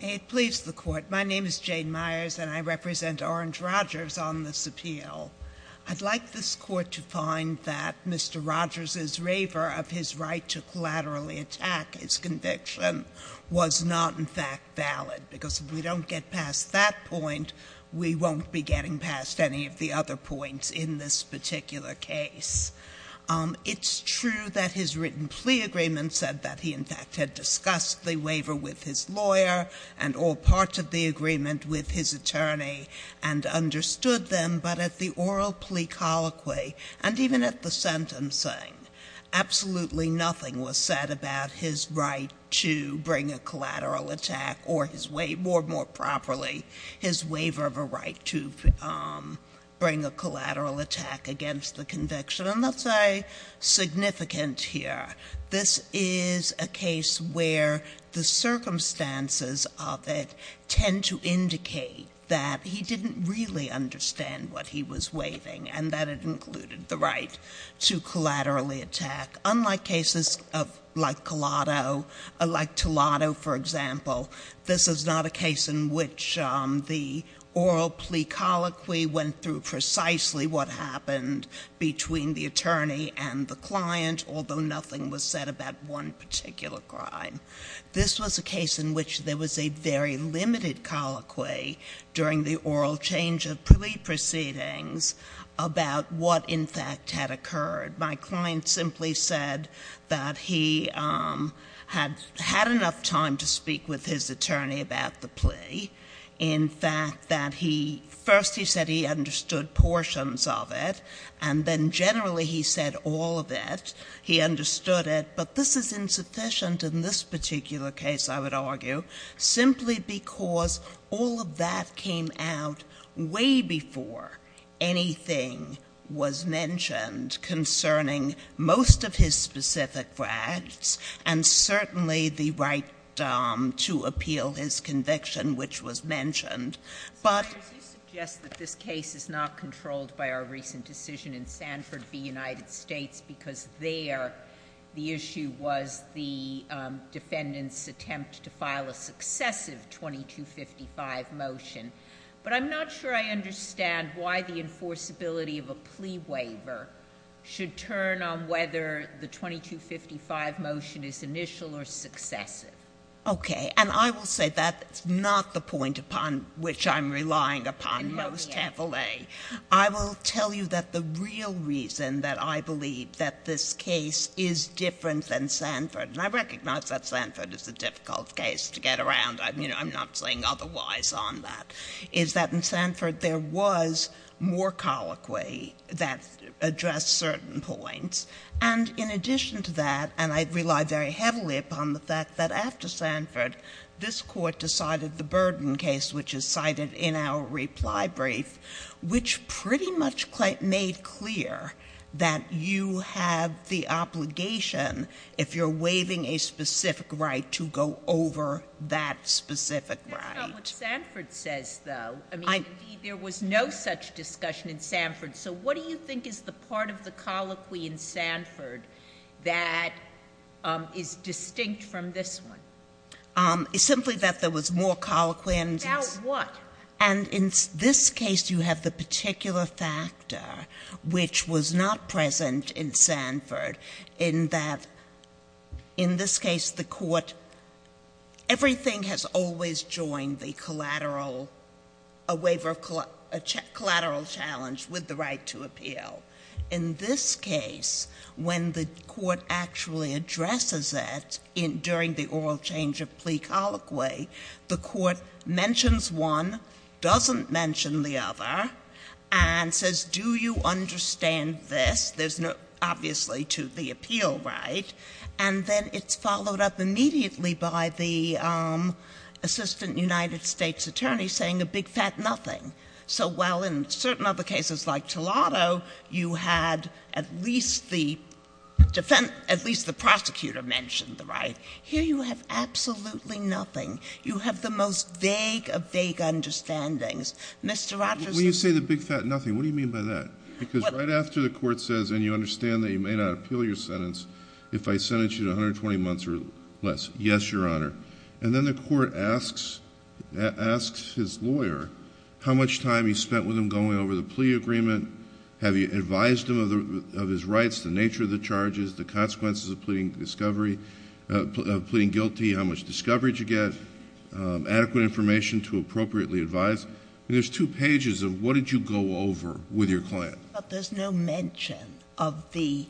May it please the Court, my name is Jane Myers and I represent Orange Rogers on this appeal. I'd like this Court to find that Mr. Rogers' waiver of his right to collaterally attack his conviction was not in fact valid because if we don't get past that point, we won't be getting past any of the other points in this particular case. It's true that his written plea agreement said that he in fact had discussed the waiver with his lawyer and all parts of the agreement with his attorney and understood them, but at the oral plea colloquy and even at the sentencing, absolutely nothing was said about his right to bring a collateral attack or his waiver, more properly, his waiver of a right to bring a collateral attack against the conviction. And that's significant here. This is a case where the circumstances of it tend to indicate that he didn't really understand what he was waiving and that it included the right to collaterally attack. Unlike cases like Colato, like Tolado, for example, this is not a case in which the oral plea colloquy went through precisely what happened between the attorney and the client, although nothing was said about one particular crime. This was a case in which there was a very limited colloquy during the oral change of plea proceedings about what in fact had occurred. My client simply said that he had had enough time to speak with his attorney about the plea. In fact, that he, first he said he understood portions of it, and then generally he said all of it. He understood it, but this is insufficient in this particular case, I would argue, simply because all of that came out way before anything was mentioned concerning most of his specific rights, and certainly the right to appeal his conviction, which was mentioned. But- The issue was the defendant's attempt to file a successive 2255 motion, but I'm not sure I understand why the enforceability of a plea waiver should turn on whether the 2255 motion is initial or successive. Okay, and I will say that's not the point upon which I'm relying upon most heavily. I will tell you that the real reason that I believe that this case is different than Sanford, and I recognize that Sanford is a difficult case to get around, I'm not saying otherwise on that, is that in Sanford there was more colloquy that addressed certain points. And in addition to that, and I rely very heavily upon the fact that after Sanford, this court decided the burden case, which is cited in our reply brief, which pretty much made clear that you have the obligation, if you're waiving a specific right, to go over that specific right. That's not what Sanford says, though. I mean, there was no such discussion in Sanford. So what do you think is the part of the colloquy in Sanford that is distinct from this one? It's simply that there was more colloquy and- About what? And in this case, you have the particular factor, which was not present in Sanford, in that, in this case, the court, everything has always joined the collateral, a waiver of collateral challenge with the right to appeal. In this case, when the court actually addresses it during the oral change of plea colloquy, the court mentions one, doesn't mention the other, and says, do you understand this? There's no, obviously, to the appeal right. And then it's followed up immediately by the assistant United States attorney saying a big fat nothing. So while in certain other cases like Tolado, you had at least the prosecutor mentioned the right, here you have absolutely nothing. You have the most vague of vague understandings. Mr. Rogers- When you say the big fat nothing, what do you mean by that? Because right after the court says, and you understand that you may not appeal your sentence if I sentence you to 120 months or less, yes, your honor. And then the court asks his lawyer how much time he spent with him going over the plea agreement. Have you advised him of his rights, the nature of the charges, the consequences of pleading discovery, of pleading guilty, how much discovery did you get, adequate information to appropriately advise? There's two pages of what did you go over with your client? But there's no mention of the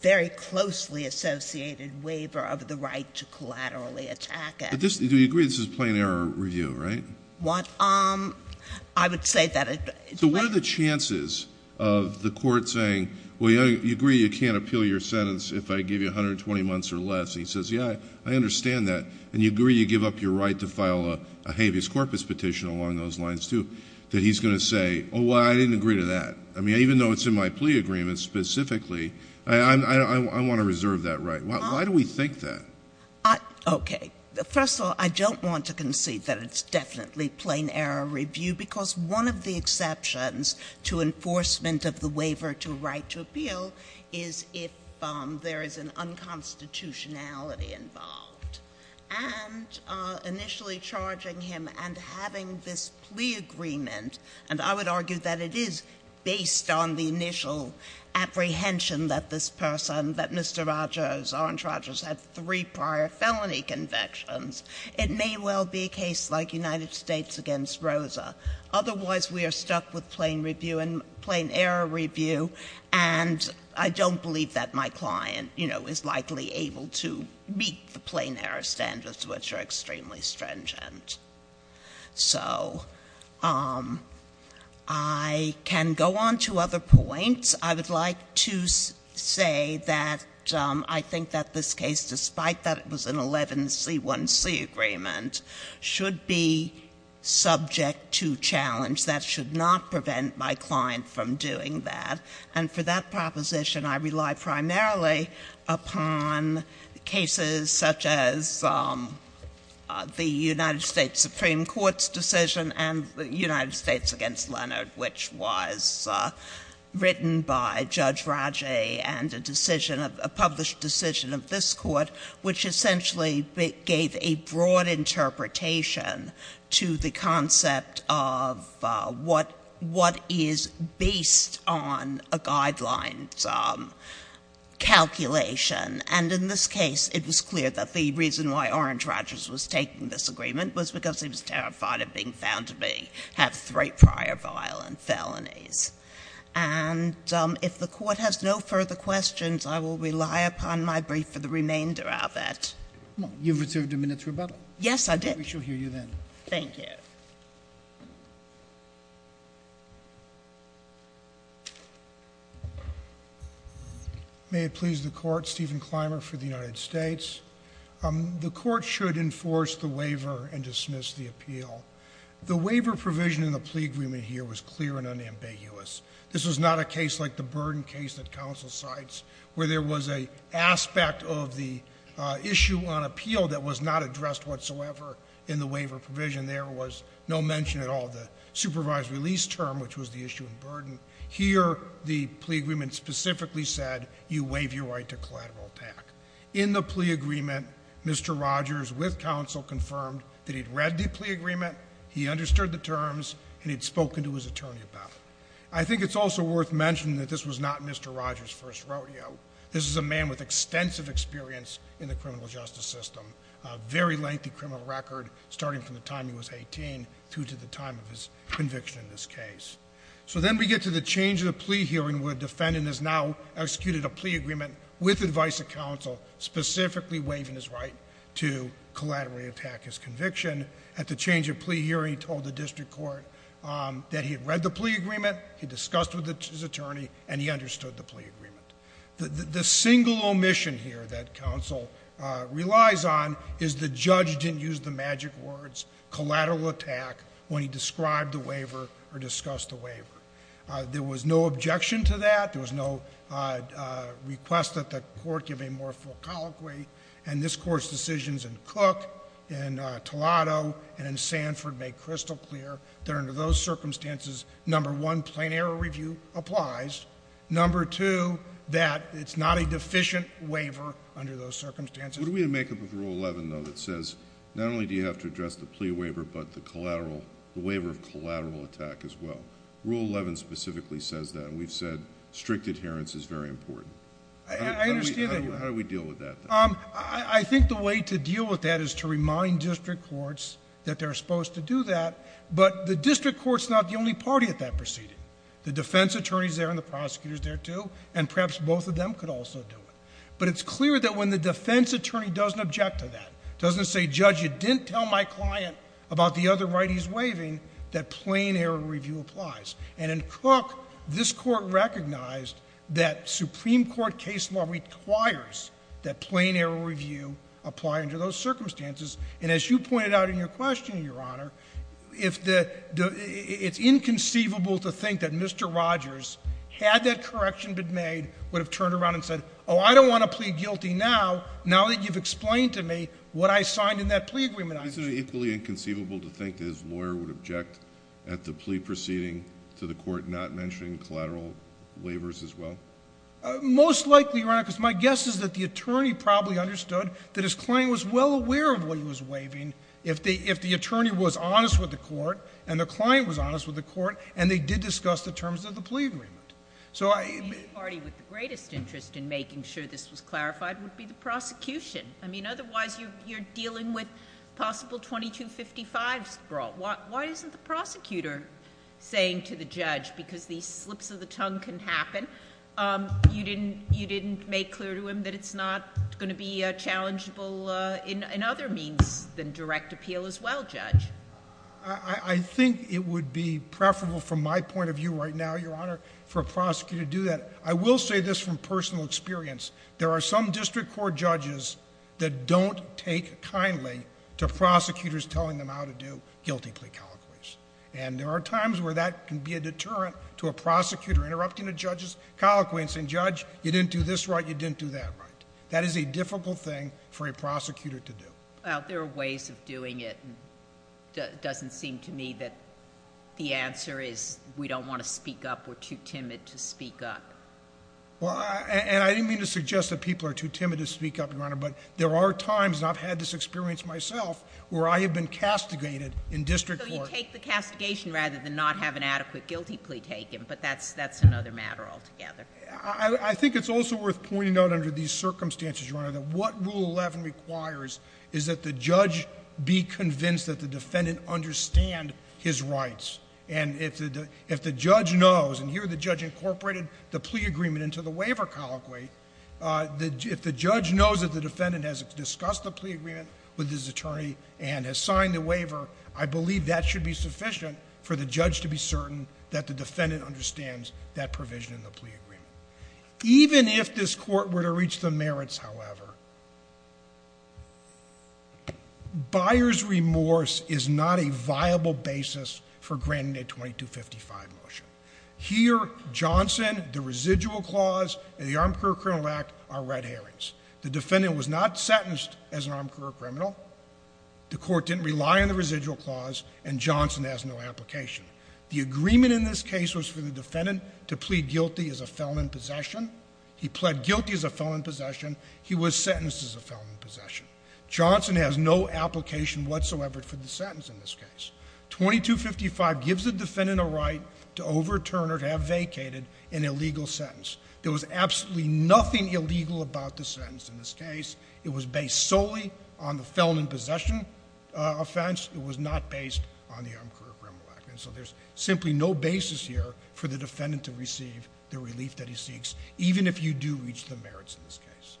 very closely associated waiver of the right to collaterally attack him. Do you agree this is a plain error review, right? What? I would say that- So what are the chances of the court saying, well, you agree you can't appeal your sentence if I give you 120 months or less. He says, yeah, I understand that. And you agree you give up your right to file a habeas corpus petition along those lines, too. That he's going to say, oh, well, I didn't agree to that. I mean, even though it's in my plea agreement specifically, I want to reserve that right. Why do we think that? Okay. First of all, I don't want to concede that it's definitely plain error review, because one of the exceptions to enforcement of the waiver to right to appeal is if there is an unconstitutionality involved. And initially charging him and having this plea agreement, and I would argue that it is based on the initial apprehension that this person, that Mr. Rogers, Orrin Rogers, had three prior felony convictions. It may well be a case like United States against Rosa. Otherwise, we are stuck with plain review and plain error review. And I don't believe that my client is likely able to meet the plain error standards, which are extremely stringent. So, I can go on to other points. I would like to say that I think that this case, despite that it was an 11C1C agreement, should be subject to challenge. That should not prevent my client from doing that. And for that proposition, I rely primarily upon cases such as the United States Supreme Court's decision and the United States against Leonard, which was written by Judge Raji and a decision of, a published decision of this court, which essentially gave a broad interpretation to the concept of what is based on a guidelines calculation. And in this case, it was clear that the reason why Orrin Rogers was taking this agreement was because he was terrified of being found to have three prior violent felonies. And if the court has no further questions, I will rely upon my brief for the remainder of it. You've reserved a minute to rebuttal. Yes, I did. We shall hear you then. Thank you. May it please the court, Stephen Clymer for the United States. The court should enforce the waiver and dismiss the appeal. The waiver provision in the plea agreement here was clear and unambiguous. This was not a case like the burden case that counsel cites, where there was a aspect of the issue on appeal that was not addressed whatsoever in the waiver provision. There was no mention at all of the supervised release term, which was the issue of burden. Here, the plea agreement specifically said, you waive your right to collateral attack. In the plea agreement, Mr. Rogers, with counsel, confirmed that he'd read the plea agreement, he understood the terms, and he'd spoken to his attorney about it. I think it's also worth mentioning that this was not Mr. Rogers' first rodeo. This is a man with extensive experience in the criminal justice system. Very lengthy criminal record, starting from the time he was 18 through to the time of his conviction in this case. So then we get to the change of the plea hearing, where a defendant has now executed a plea agreement with advice of counsel, specifically waiving his right to collaterally attack his conviction. At the change of plea hearing, he told the district court that he had read the plea agreement, he discussed with his attorney, and he understood the plea agreement. The single omission here that counsel relies on is the judge didn't use the magic words, collateral attack, when he described the waiver or discussed the waiver. There was no objection to that, there was no request that the court give a more full colloquy. And this court's decisions in Cook, in Tolado, and in Sanford make crystal clear that under those circumstances, number one, plain error review applies, number two, that it's not a deficient waiver under those circumstances. What do we make of rule 11, though, that says not only do you have to address the plea waiver, but the waiver of collateral attack as well? Rule 11 specifically says that, and we've said strict adherence is very important. I understand that. How do we deal with that? I think the way to deal with that is to remind district courts that they're supposed to do that. But the district court's not the only party at that proceeding. The defense attorney's there and the prosecutor's there, too, and perhaps both of them could also do it. But it's clear that when the defense attorney doesn't object to that, doesn't say, judge, you didn't tell my client about the other right he's waiving, that plain error review applies. And in Cook, this court recognized that Supreme Court case law requires that plain error review apply under those circumstances. And as you pointed out in your question, Your Honor, it's inconceivable to think that Mr. Rogers, had that correction been made, would have turned around and said, I don't want to plead guilty now, now that you've explained to me what I signed in that plea agreement. Is it equally inconceivable to think that his lawyer would object at the plea proceeding to the court not mentioning collateral waivers as well? Most likely, Your Honor, because my guess is that the attorney probably understood that his client was well aware of what he was waiving. If the attorney was honest with the court, and the client was honest with the court, and they did discuss the terms of the plea agreement. So I- The party with the greatest interest in making sure this was clarified would be the prosecution. I mean, otherwise, you're dealing with possible 2255's brawl. Why isn't the prosecutor saying to the judge, because these slips of the tongue can happen, you didn't make clear to him that it's not going to be challengeable in other means than direct appeal as well, Judge? I think it would be preferable from my point of view right now, Your Honor, for a prosecutor to do that. I will say this from personal experience. There are some district court judges that don't take kindly to prosecutors telling them how to do guilty plea colloquies. And there are times where that can be a deterrent to a prosecutor interrupting a judge's colloquy and saying, Judge, you didn't do this right, you didn't do that right. That is a difficult thing for a prosecutor to do. Well, there are ways of doing it, and it doesn't seem to me that the answer is we don't want to speak up, we're too timid to speak up. Well, and I didn't mean to suggest that people are too timid to speak up, Your Honor, but there are times, and I've had this experience myself, where I have been castigated in district court. So you take the castigation rather than not have an adequate guilty plea taken, but that's another matter altogether. I think it's also worth pointing out under these circumstances, Your Honor, that what Rule 11 requires is that the judge be convinced that the defendant understand his rights. And if the judge knows, and here the judge incorporated the plea agreement into the waiver colloquy. If the judge knows that the defendant has discussed the plea agreement with his attorney and has signed the waiver, I believe that should be sufficient for the judge to be certain that the defendant understands that provision in the plea agreement. Even if this court were to reach the merits, however, Buyer's remorse is not a viable basis for granting a 2255 motion. Here, Johnson, the residual clause, and the Armed Career Criminal Act are red herrings. The defendant was not sentenced as an armed career criminal. The court didn't rely on the residual clause, and Johnson has no application. The agreement in this case was for the defendant to plead guilty as a felon in possession. He pled guilty as a felon in possession. He was sentenced as a felon in possession. Johnson has no application whatsoever for the sentence in this case. 2255 gives the defendant a right to overturn or to have vacated an illegal sentence. There was absolutely nothing illegal about the sentence in this case. It was based solely on the felon in possession offense. It was not based on the Armed Career Criminal Act. And so there's simply no basis here for the defendant to receive the relief that he seeks, even if you do reach the merits in this case.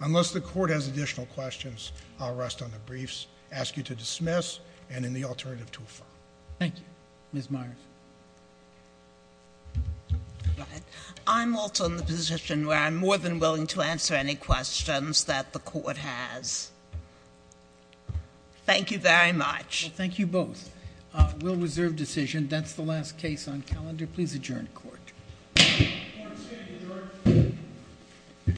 Unless the court has additional questions, I'll rest on the briefs, ask you to dismiss, and in the alternative to a file. Thank you. Ms. Myers. Go ahead. I'm also in the position where I'm more than willing to answer any questions that the court has. Thank you very much. Thank you both. We'll reserve decision. That's the last case on calendar. Please adjourn court. Court is adjourned.